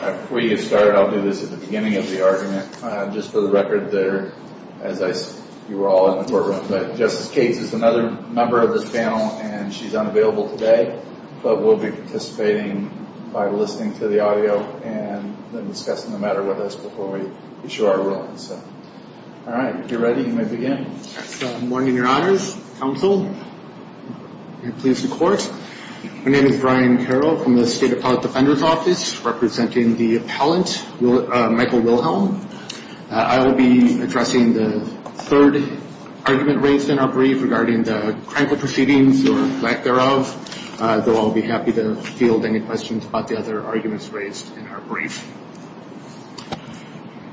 Before you get started, I'll do this at the beginning of the argument. Just for the record there, as you were all in the courtroom. But Justice Cates is another member of this panel and she's unavailable today. But we'll be participating by listening to the audio and then discussing the matter with us before we issue our ruling. All right. If you're ready, you may begin. Good morning, your honors, counsel, and please the court. My name is Brian Carroll from the State Appellate Defender's Office, representing the appellant, Michael Wilhelm. I will be addressing the third argument raised in our brief regarding the criminal proceedings or lack thereof, though I'll be happy to field any questions about the other arguments raised in our brief.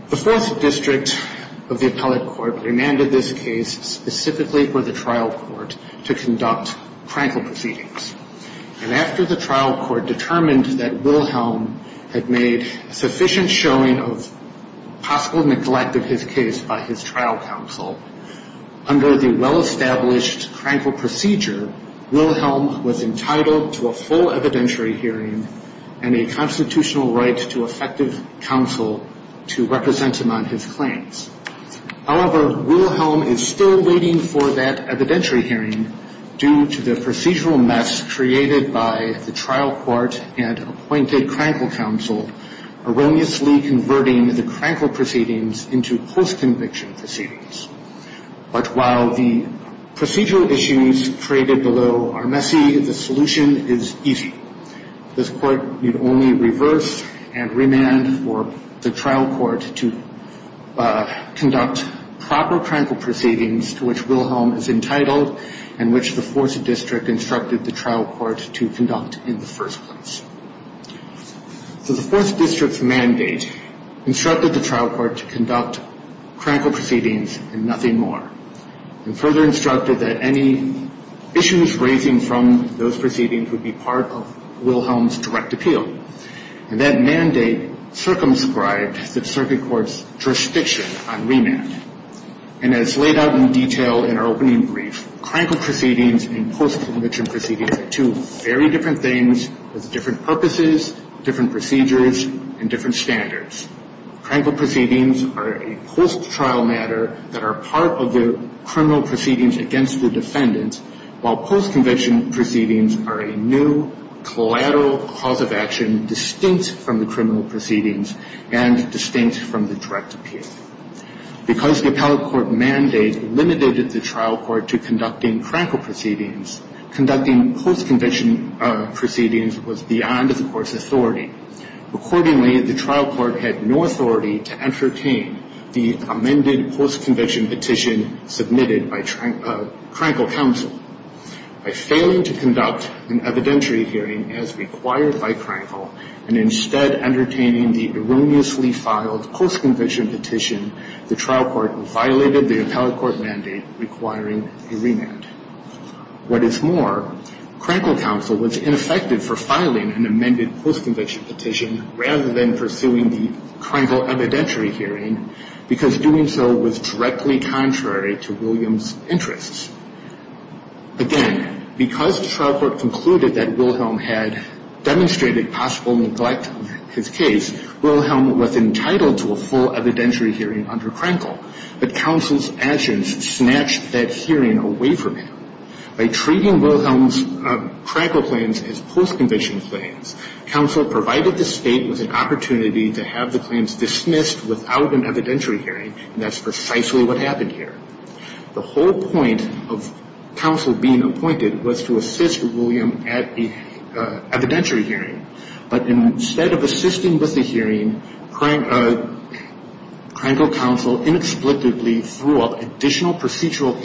The Fourth District of the Appellate Court remanded this case specifically for the trial court to conduct crankle proceedings. And after the trial court determined that Wilhelm had made sufficient showing of possible neglect of his case by his trial counsel, under the well-established crankle procedure, Wilhelm was entitled to a full evidentiary hearing and a constitutional right to effective counsel to represent him on his claims. However, Wilhelm is still waiting for that evidentiary hearing due to the procedural mess created by the trial court and appointed crankle counsel erroneously converting the crankle proceedings into post-conviction proceedings. But while the procedural issues created below are messy, the solution is easy. This court need only reverse and remand for the trial court to conduct proper crankle proceedings to which Wilhelm is entitled and which the Fourth District instructed the trial court to conduct in the first place. So the Fourth District's mandate instructed the trial court to conduct crankle proceedings and nothing more and further instructed that any issues raising from those proceedings would be part of Wilhelm's direct appeal. And that mandate circumscribed the circuit court's jurisdiction on remand. And as laid out in detail in our opening brief, crankle proceedings and post-conviction proceedings are two very different things with different purposes, different procedures, and different standards. Crankle proceedings are a post-trial matter that are part of the criminal proceedings against the defendant, while post-conviction proceedings are a new collateral cause of action distinct from the criminal proceedings and distinct from the direct appeal. Because the appellate court mandate limited the trial court to conducting crankle proceedings, conducting post-conviction proceedings was beyond the court's authority. Accordingly, the trial court had no authority to entertain the amended post-conviction petition submitted by crankle counsel. By failing to conduct an evidentiary hearing as required by crankle and instead entertaining the erroneously filed post-conviction petition, the trial court violated the appellate court mandate requiring a remand. What is more, crankle counsel was ineffective for filing an amended post-conviction petition rather than pursuing the crankle evidentiary hearing because doing so was directly contrary to Williams' interests. Again, because the trial court concluded that Wilhelm had demonstrated possible neglect of his case, Wilhelm was entitled to a full evidentiary hearing under crankle. But counsel's actions snatched that hearing away from him. By treating Wilhelm's crankle claims as post-conviction claims, counsel provided the State with an opportunity to have the claims dismissed without an evidentiary hearing, and that's precisely what happened here. The whole point of counsel being appointed was to assist William at the evidentiary hearing, but instead of assisting with the hearing, crankle counsel inexplicably threw up additional procedural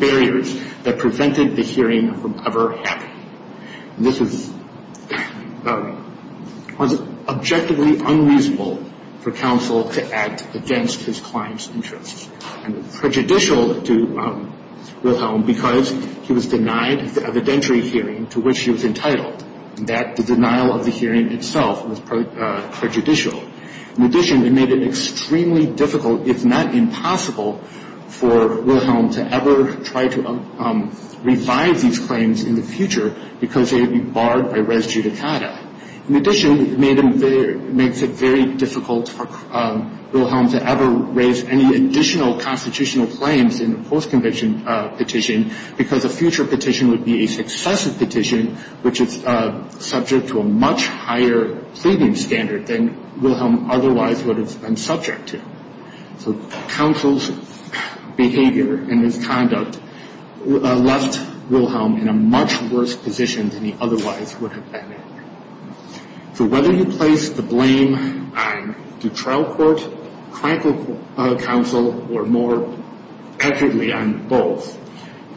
barriers that prevented the hearing from ever happening. This was objectively unreasonable for counsel to act against his client's interests. And it was prejudicial to Wilhelm because he was denied the evidentiary hearing to which he was entitled, and that denial of the hearing itself was prejudicial. In addition, it made it extremely difficult, if not impossible, for Wilhelm to ever try to revive these claims in the future because they would be barred by res judicata. In addition, it makes it very difficult for Wilhelm to ever raise any additional constitutional claims in a post-conviction petition because a future petition would be a successive petition which is subject to a much higher pleading standard than Wilhelm otherwise would have been subject to. So counsel's behavior and his conduct left Wilhelm in a much worse position than he otherwise would have been in. So whether you place the blame on the trial court, crankle counsel, or more accurately on both,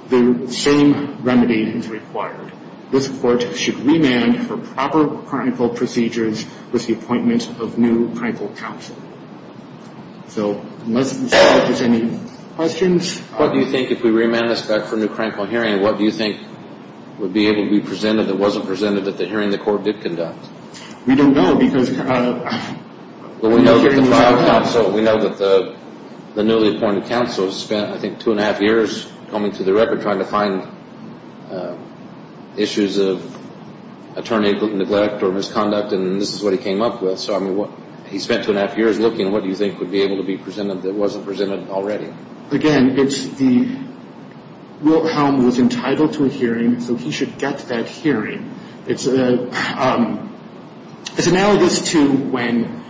the same remedy is required. This court should remand for proper crankle procedures with the appointment of new crankle counsel. So unless Mr. Judge has any questions. What do you think if we remand this back for new crankle hearing, what do you think would be able to be presented that wasn't presented at the hearing the court did conduct? We don't know because... Well, we know that the trial counsel, we know that the newly appointed counsel spent I think two and a half years combing through the record trying to find issues of attorney neglect or misconduct and this is what he came up with. So, I mean, he spent two and a half years looking. What do you think would be able to be presented that wasn't presented already? Again, it's the Wilhelm was entitled to a hearing, so he should get that hearing. It's analogous to when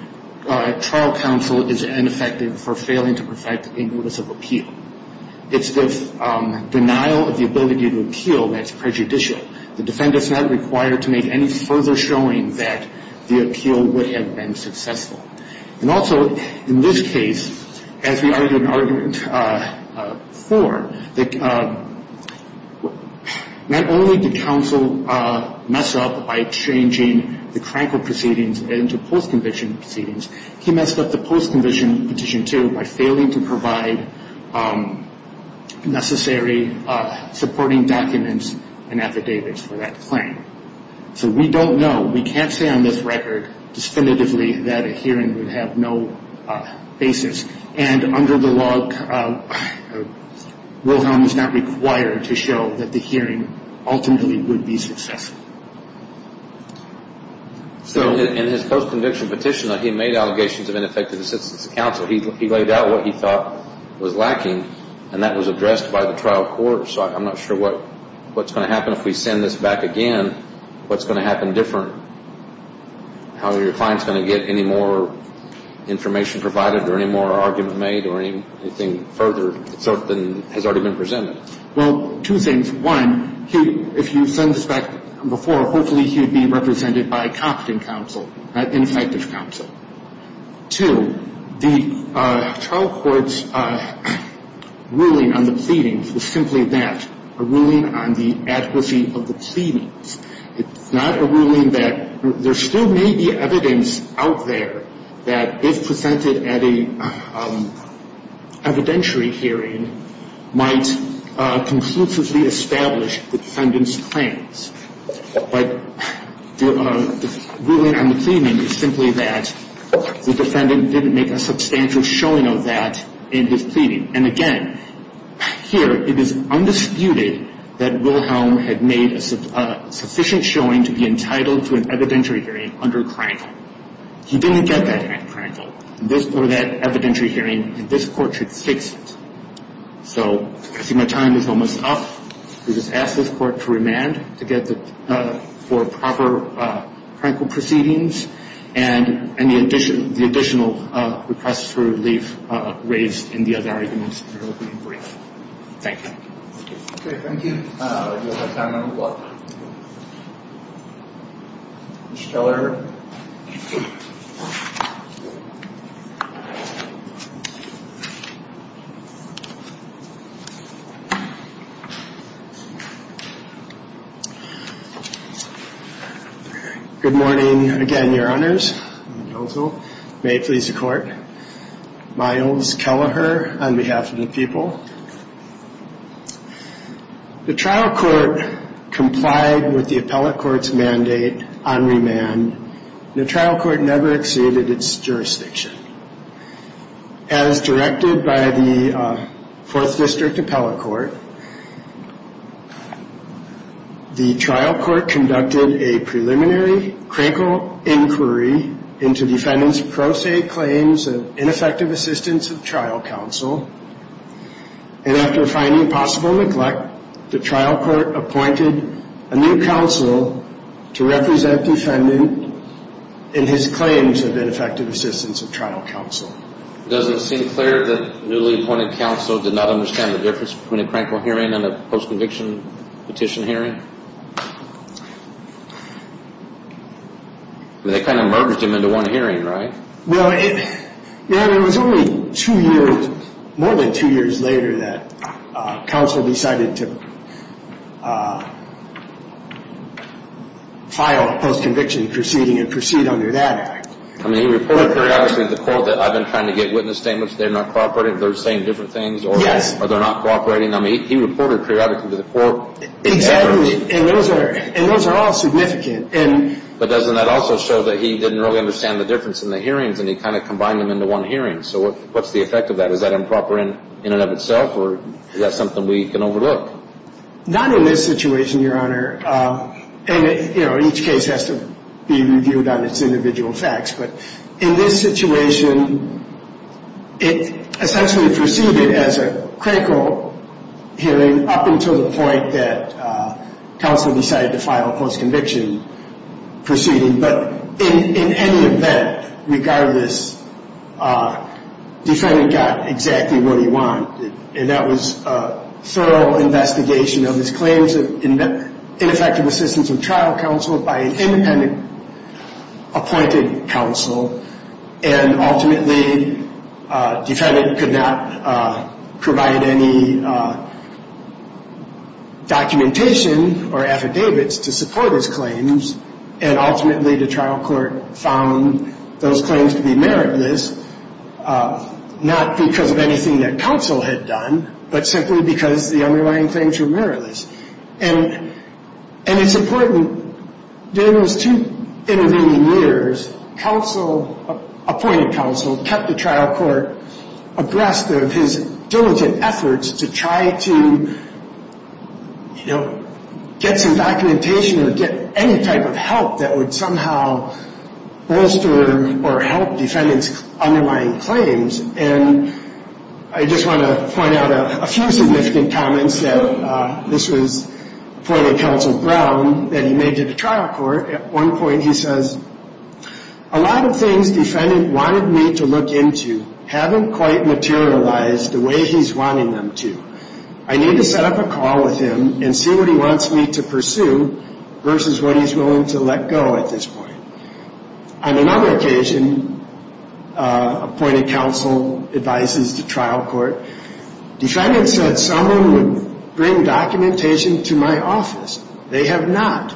trial counsel is ineffective for failing to perfect a notice of appeal. It's the denial of the ability to appeal that's prejudicial. The defendant's not required to make any further showing that the appeal would have been successful. And also, in this case, as we argued in argument four, not only did counsel mess up by changing the crankle proceedings into post-conviction proceedings, he messed up the post-conviction petition too by failing to provide necessary supporting documents and affidavits for that claim. So we don't know. We can't say on this record definitively that a hearing would have no basis. And under the law, Wilhelm is not required to show that the hearing ultimately would be successful. So in his post-conviction petition, he made allegations of ineffective assistance to counsel. He laid out what he thought was lacking, and that was addressed by the trial court. So I'm not sure what's going to happen if we send this back again. What's going to happen different? How are your clients going to get any more information provided or any more arguments made or anything further than has already been presented? Well, two things. One, if you send this back before, hopefully he would be represented by competent counsel, not ineffective counsel. Two, the trial court's ruling on the pleadings was simply that, a ruling on the adequacy of the pleadings. It's not a ruling that there still may be evidence out there that if presented at an evidentiary hearing, might conclusively establish the defendant's claims. But the ruling on the pleading is simply that the defendant didn't make a substantial showing of that in his pleading. And again, here it is undisputed that Wilhelm had made a sufficient showing to be entitled to an evidentiary hearing under Krankel. He didn't get that at Krankel, or that evidentiary hearing, and this court should fix it. So I see my time is almost up. We just ask this court to remand for proper Krankel proceedings and the additional requests for relief raised in the other arguments in the opening brief. Thank you. Okay, thank you. Your time is up. Ms. Keller. Good morning, again, Your Honors. May it please the Court. Myles Kelleher on behalf of the people. The trial court complied with the appellate court's mandate on remand, and the trial court never exceeded its jurisdiction. As directed by the Fourth District Appellate Court, the trial court conducted a preliminary Krankel inquiry into the defendant's pro se claims of ineffective assistance of trial counsel. And after finding possible neglect, the trial court appointed a new counsel to represent the defendant in his claims of ineffective assistance of trial counsel. Does it seem clear that the newly appointed counsel did not understand the difference between a Krankel hearing and a post-conviction petition hearing? They kind of merged them into one hearing, right? Well, it was only two years, more than two years later, that counsel decided to file a post-conviction proceeding and proceed under that act. I mean, he reported periodically to the court that, I've been trying to get witness statements, they're not cooperating, they're saying different things, or they're not cooperating. I mean, he reported periodically to the court. Exactly, and those are all significant. But doesn't that also show that he didn't really understand the difference in the hearings and he kind of combined them into one hearing? So what's the effect of that? Is that improper in and of itself, or is that something we can overlook? Not in this situation, Your Honor. And, you know, each case has to be reviewed on its individual facts. But in this situation, it essentially proceeded as a Krankel hearing up until the point that counsel decided to file a post-conviction proceeding. But in any event, regardless, Defendant got exactly what he wanted, and that was a thorough investigation of his claims of ineffective assistance of trial counsel by an independent appointed counsel. And ultimately, Defendant could not provide any documentation or affidavits to support his claims, and ultimately the trial court found those claims to be meritless, not because of anything that counsel had done, but simply because the underlying claims were meritless. And it's important, during those two intervening years, counsel, appointed counsel, kept the trial court abreast of his diligent efforts to try to, you know, get some documentation or get any type of help that would somehow bolster or help Defendant's underlying claims. And I just want to point out a few significant comments that this was appointed counsel Brown that he made to the trial court. At one point he says, A lot of things Defendant wanted me to look into haven't quite materialized the way he's wanting them to. I need to set up a call with him and see what he wants me to pursue versus what he's willing to let go at this point. On another occasion, appointed counsel advises the trial court, Defendant said someone would bring documentation to my office. They have not.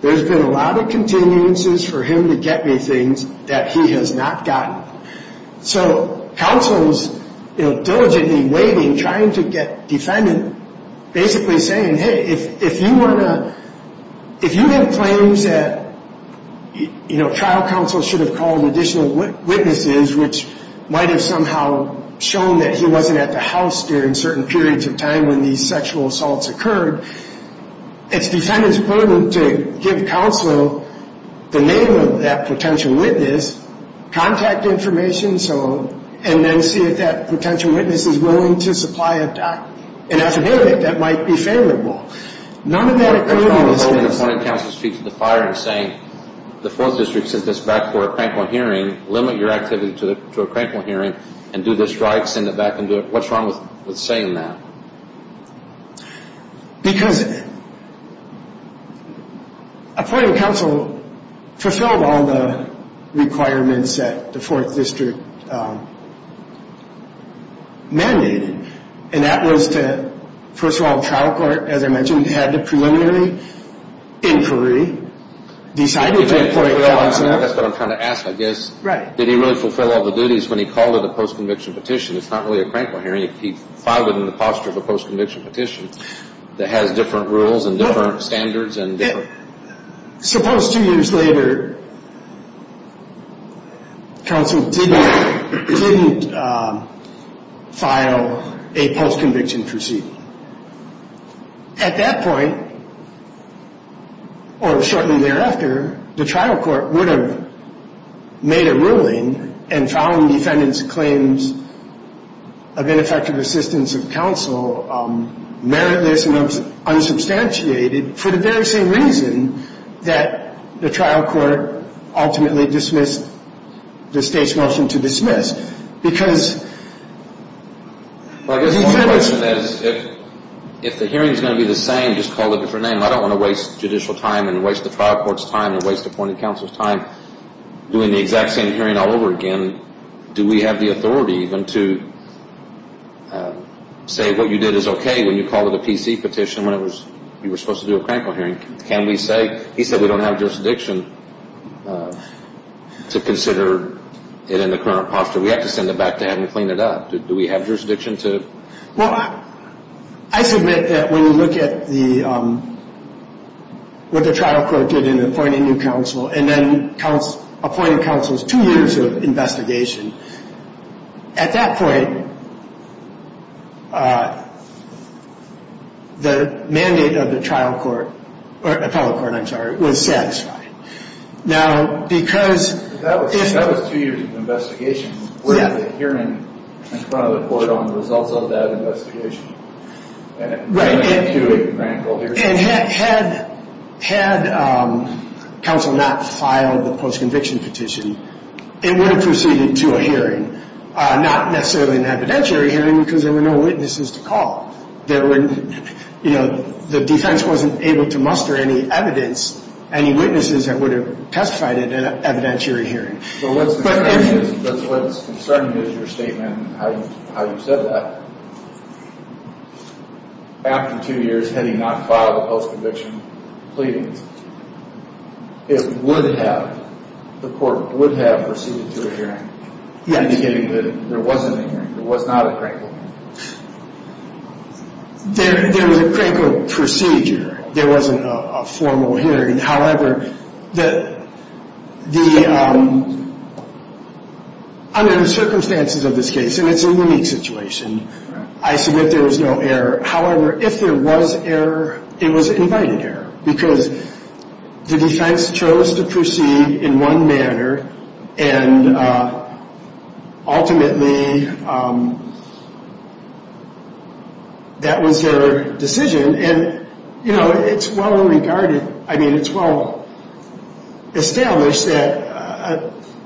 There's been a lot of continuances for him to get me things that he has not gotten. So counsel is, you know, diligently waiting, trying to get Defendant basically saying, Hey, if you want to, if you have claims that, you know, trial counsel should have called additional witnesses which might have somehow shown that he wasn't at the house during certain periods of time when these sexual assaults occurred, it's Defendant's burden to give counsel the name of that potential witness, contact information, and then see if that potential witness is willing to supply a document. And as a candidate, that might be favorable. None of that occurred in this case. What's wrong with holding appointed counsel's feet to the fire and saying, The Fourth District sent this back for a crankle hearing. Limit your activity to a crankle hearing and do this right. Send it back and do it. What's wrong with saying that? Because appointed counsel fulfilled all the requirements that the Fourth District mandated, and that was to, first of all, trial court, as I mentioned, had the preliminary inquiry, decided to appoint counsel. That's what I'm trying to ask, I guess. Right. Did he really fulfill all the duties when he called it a post-conviction petition? It's not really a crankle hearing if he filed it in the posture of a post-conviction petition that has different rules and different standards and different... Suppose two years later, counsel didn't file a post-conviction proceed. At that point, or shortly thereafter, the trial court would have made a ruling and found the defendant's claims of ineffective assistance of counsel meritless and unsubstantiated for the very same reason that the trial court ultimately dismissed the state's motion to dismiss. Because... Well, I guess the whole question is if the hearing is going to be the same, just call it a different name. I don't want to waste judicial time and waste the trial court's time and waste appointed counsel's time doing the exact same hearing all over again. Do we have the authority even to say what you did is okay when you call it a PC petition when you were supposed to do a crankle hearing? Can we say... He said we don't have jurisdiction to consider it in the current posture. We have to send it back to him and clean it up. Do we have jurisdiction to... Well, I submit that when you look at what the trial court did in appointing new counsel and then appointing counsel's two years of investigation, at that point, the mandate of the trial court, or appellate court, I'm sorry, was satisfied. Now, because... That was two years of investigation where the hearing in front of the court on the results of that investigation... Right. Had counsel not filed the post-conviction petition, it would have proceeded to a hearing, not necessarily an evidentiary hearing because there were no witnesses to call. The defense wasn't able to muster any evidence, any witnesses that would have testified at an evidentiary hearing. But what's concerning is your statement, how you said that. After two years, had he not filed a post-conviction plea, it would have, the court would have proceeded to a hearing... Yes. ...indicating that there wasn't a hearing, there was not a crankle hearing. There was a crankle procedure. There wasn't a formal hearing. However, under the circumstances of this case, and it's a unique situation, I submit there was no error. However, if there was error, it was invited error because the defense chose to proceed in one manner, and ultimately that was their decision. And, you know, it's well regarded. I mean, it's well established that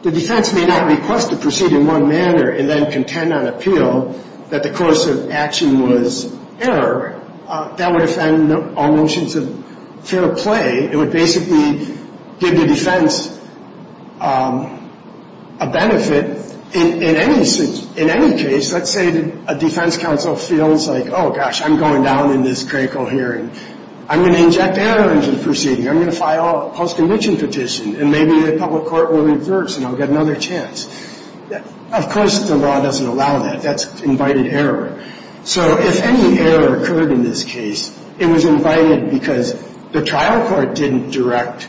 the defense may not request to proceed in one manner and then contend on appeal that the course of action was error. That would offend all notions of fair play. It would basically give the defense a benefit. In any case, let's say a defense counsel feels like, oh, gosh, I'm going down in this crankle hearing. I'm going to inject error into the proceeding. I'm going to file a post-conviction petition, and maybe the public court will reverse, and I'll get another chance. Of course, the law doesn't allow that. That's invited error. So if any error occurred in this case, it was invited because the trial court didn't direct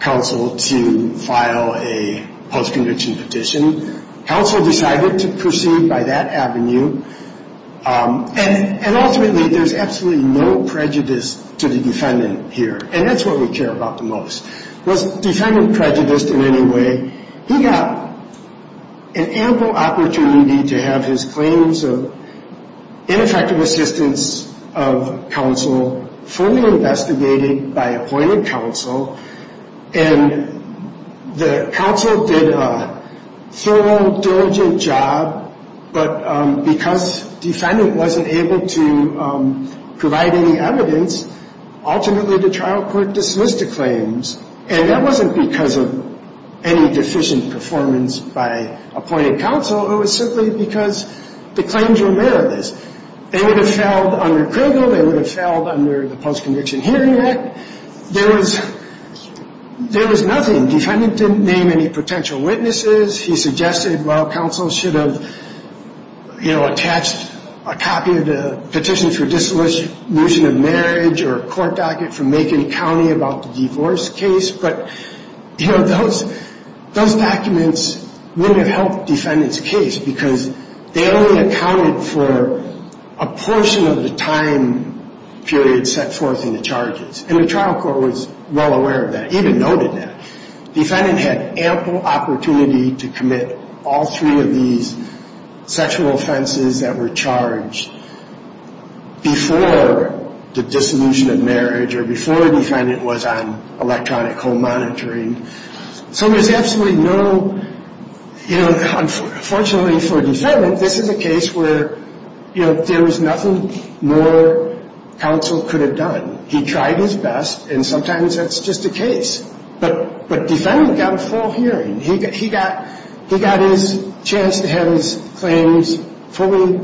counsel to file a post-conviction petition. Counsel decided to proceed by that avenue, and ultimately there's absolutely no prejudice to the defendant here, and that's what we care about the most. Was defendant prejudiced in any way? He got an ample opportunity to have his claims of ineffective assistance of counsel fully investigated by appointed counsel, and the counsel did a thorough, diligent job, but because defendant wasn't able to provide any evidence, ultimately the trial court dismissed the claims, and that wasn't because of any deficient performance by appointed counsel. It was simply because the claims were meritless. They would have failed under Kregel. They would have failed under the Post-Conviction Hearing Act. There was nothing. Defendant didn't name any potential witnesses. He suggested, well, counsel should have, you know, attached a copy of the Petition for Dissolution of Marriage or a court docket from Macon County about the divorce case, but, you know, those documents wouldn't have helped defendant's case because they only accounted for a portion of the time period set forth in the charges, and the trial court was well aware of that, even noted that. Defendant had ample opportunity to commit all three of these sexual offenses that were charged before the dissolution of marriage or before the defendant was on electronic home monitoring, so there's absolutely no, you know, unfortunately for defendant, this is a case where, you know, there was nothing more counsel could have done. He tried his best, and sometimes that's just the case, but defendant got a full hearing. He got his chance to have his claims fully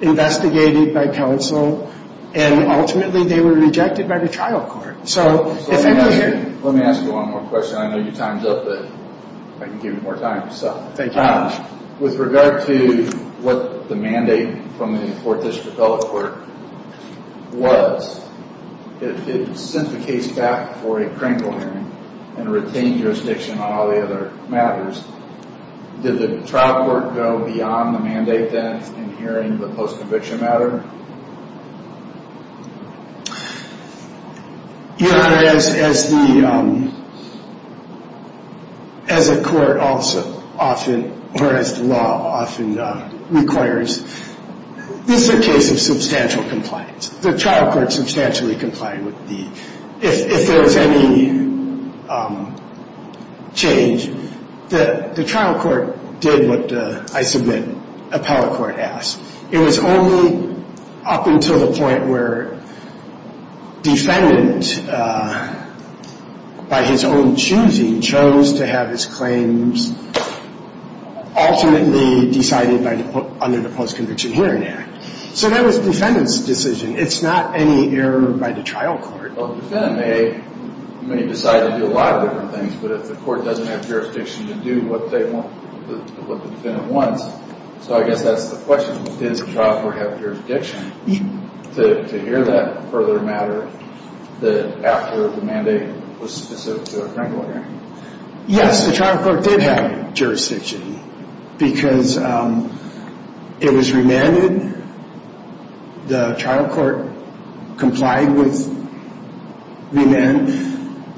investigated by counsel, and ultimately they were rejected by the trial court. So if I may hear. Let me ask you one more question. I know your time's up, but I can give you more time. Thank you very much. With regard to what the mandate from the Fourth District Court was, if it sent the case back for a criminal hearing and retained jurisdiction on all the other matters, did the trial court go beyond the mandate then in hearing the post-conviction matter? Your Honor, as the court also often, or as the law often requires, this is a case of substantial compliance. The trial court substantially complied with the, if there was any change, the trial court did what I submit a power court asked. It was only up until the point where defendant, by his own choosing, chose to have his claims ultimately decided under the Post-Conviction Hearing Act. So that was defendant's decision. It's not any error by the trial court. Well, the defendant may decide to do a lot of different things, but if the court doesn't have jurisdiction to do what the defendant wants, so I guess that's the question. Did the trial court have jurisdiction to hear that further matter after the mandate was specific to a criminal hearing? Yes, the trial court did have jurisdiction because it was remanded. The trial court complied with remand.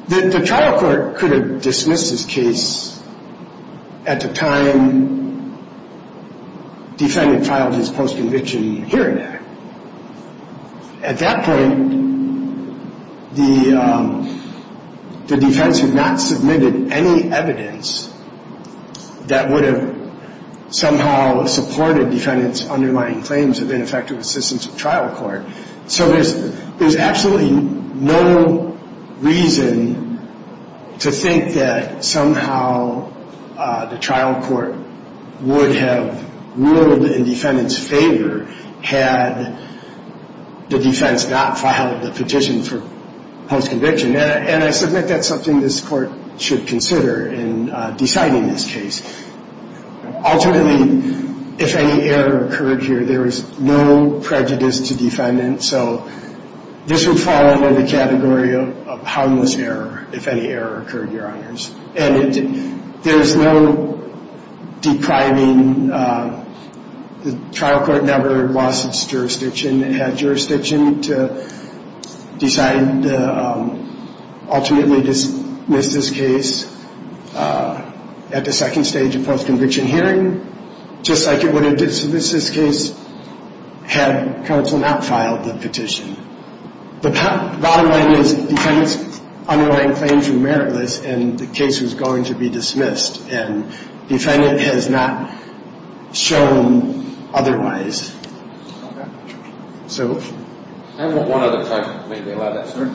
The trial court could have dismissed this case at the time defendant filed his post-conviction hearing. At that point, the defense had not submitted any evidence that would have somehow supported defendant's underlying claims of ineffective assistance with trial court. So there's absolutely no reason to think that somehow the trial court would have ruled in defendant's favor had the defense not filed the petition for post-conviction, and I submit that's something this court should consider in deciding this case. Ultimately, if any error occurred here, there is no prejudice to defendants, so this would fall under the category of houndless error if any error occurred, Your Honors. And there's no depriving. The trial court never lost its jurisdiction. It had jurisdiction to decide to ultimately dismiss this case at the second stage of post-conviction hearing, just like it would have dismissed this case had counsel not filed the petition. The bottom line is defendant's underlying claims were meritless, and the case was going to be dismissed, and defendant has not shown otherwise. Okay. So? Can I have one other question, if I may be allowed that? Sure.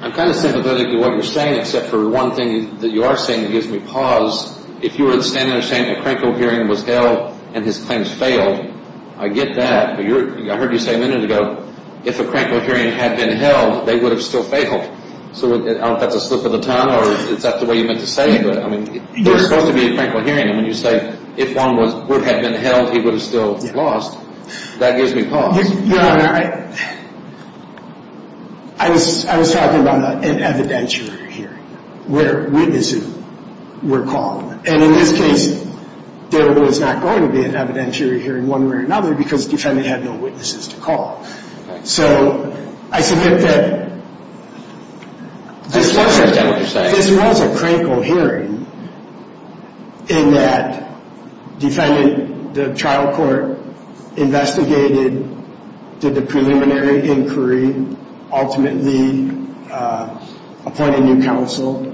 I'm kind of sympathetic to what you're saying, except for one thing that you are saying that gives me pause. If you were standing there saying a crankle hearing was held and his claims failed, I get that, but I heard you say a minute ago, if a crankle hearing had been held, they would have still failed. I don't know if that's a slip of the tongue, or is that the way you meant to say it? I mean, there's supposed to be a crankle hearing. I mean, you say if one would have been held, he would have still lost. That gives me pause. Your Honor, I was talking about an evidentiary hearing where witnesses were called. And in this case, there was not going to be an evidentiary hearing one way or another because defendant had no witnesses to call. So I submit that this was a crankle hearing in that defendant, the trial court investigated, did the preliminary inquiry, ultimately appointed new counsel,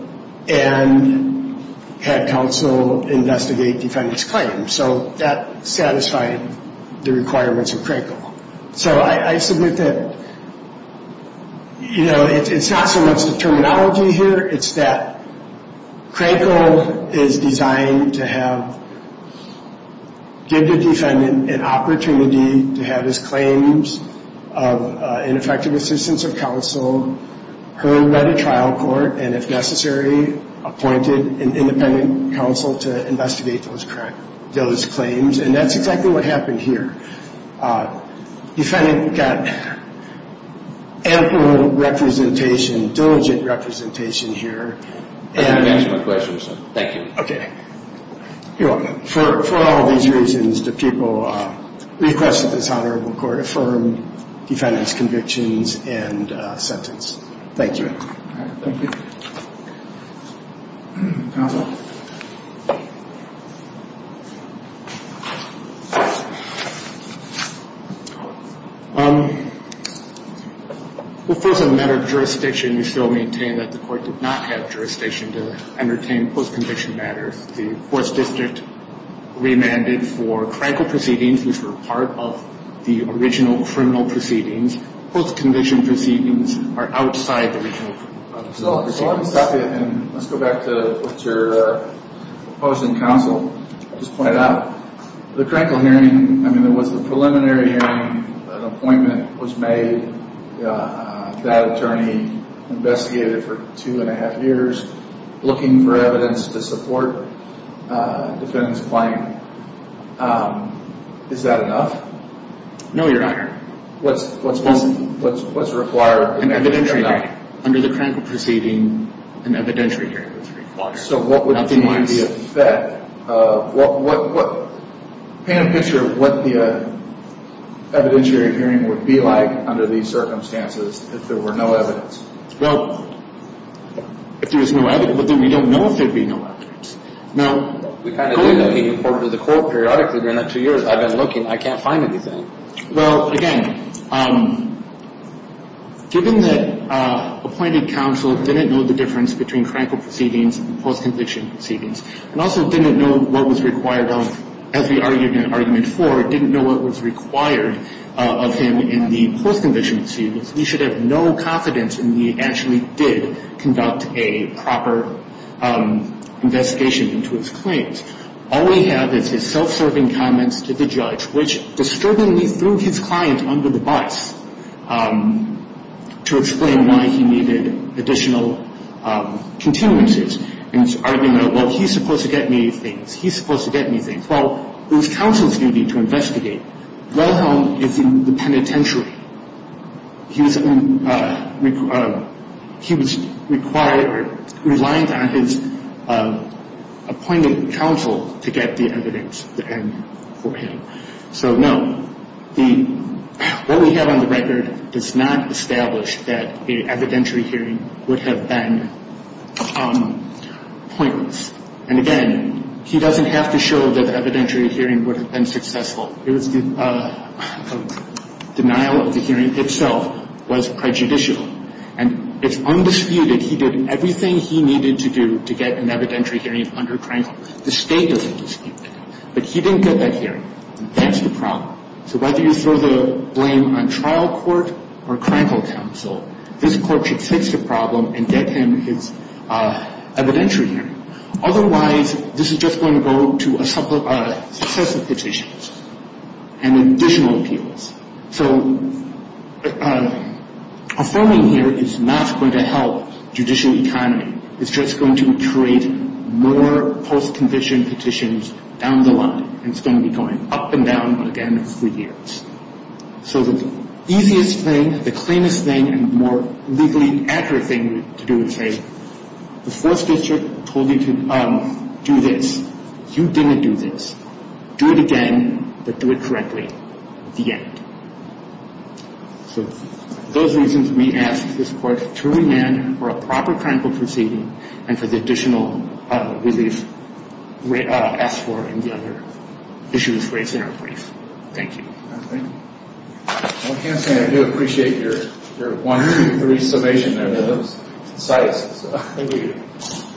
and had counsel investigate defendant's claims. So that satisfied the requirements of crankle. So I submit that, you know, it's not so much the terminology here. It's that crankle is designed to give the defendant an opportunity to have his claims of ineffective assistance of counsel heard by the trial court and, if necessary, appointed an independent counsel to investigate those claims. And that's exactly what happened here. Defendant got ample representation, diligent representation here. Thank you for answering my question, sir. Thank you. You're welcome. For all these reasons, the people requested this Honorable Court affirm defendant's convictions and sentence. Thank you. Thank you. Counsel? Well, first, as a matter of jurisdiction, we still maintain that the court did not have jurisdiction to entertain post-conviction matters. The Fourth District remanded for crankle proceedings, which were part of the original criminal proceedings. Post-conviction proceedings are outside the original criminal proceedings. So let me stop you, and let's go back to what you're saying. Sir, opposing counsel. I'll just point it out. The crankle hearing, I mean, there was a preliminary hearing. An appointment was made. That attorney investigated it for two and a half years, looking for evidence to support defendant's claim. Is that enough? No, Your Honor. What's required? An evidentiary hearing. Under the crankle proceeding, an evidentiary hearing was required. So what would the hearing be in effect? Paint a picture of what the evidentiary hearing would be like under these circumstances if there were no evidence. Well, if there was no evidence, then we don't know if there would be no evidence. We kind of did looking forward to the court periodically during that two years. I've been looking. I can't find anything. Well, again, given that appointed counsel didn't know the difference between crankle proceedings and post-conviction proceedings, and also didn't know what was required of, as we argued in Argument 4, didn't know what was required of him in the post-conviction proceedings, we should have no confidence in that he actually did conduct a proper investigation into his claims. All we have is his self-serving comments to the judge, which disturbingly threw his client under the bus to explain why he needed additional continuances. And he's arguing, well, he's supposed to get me things. He's supposed to get me things. Well, it was counsel's duty to investigate. Well, he's in the penitentiary. He was required, reliant on his appointed counsel to get the evidence for him. So, no, what we have on the record does not establish that an evidentiary hearing would have been pointless. And, again, he doesn't have to show that an evidentiary hearing would have been successful. It was the denial of the hearing itself was prejudicial. And it's undisputed he did everything he needed to do to get an evidentiary hearing under Krankel. The State doesn't dispute that. But he didn't get that hearing. And that's the problem. So whether you throw the blame on trial court or Krankel counsel, this Court should fix the problem and get him his evidentiary hearing. Otherwise, this is just going to go to successive petitions and additional appeals. So affirming here is not going to help judicial economy. It's just going to create more post-conviction petitions down the line. And it's going to be going up and down again for years. So the easiest thing, the cleanest thing, and more legally accurate thing to do is say, the Fourth District told you to do this. You didn't do this. Do it again, but do it correctly at the end. So those reasons we ask this Court to remand for a proper Krankel proceeding and for the additional relief asked for in the other issues raised in our brief. Thank you. Well, I can say I do appreciate your one, two, three summation there. That was concise. Thank you.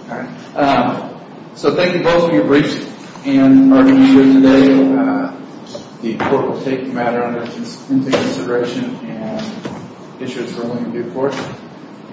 All right. So thank you both for your briefs and our interview today. The Court will take the matter into consideration and issue its ruling in due course.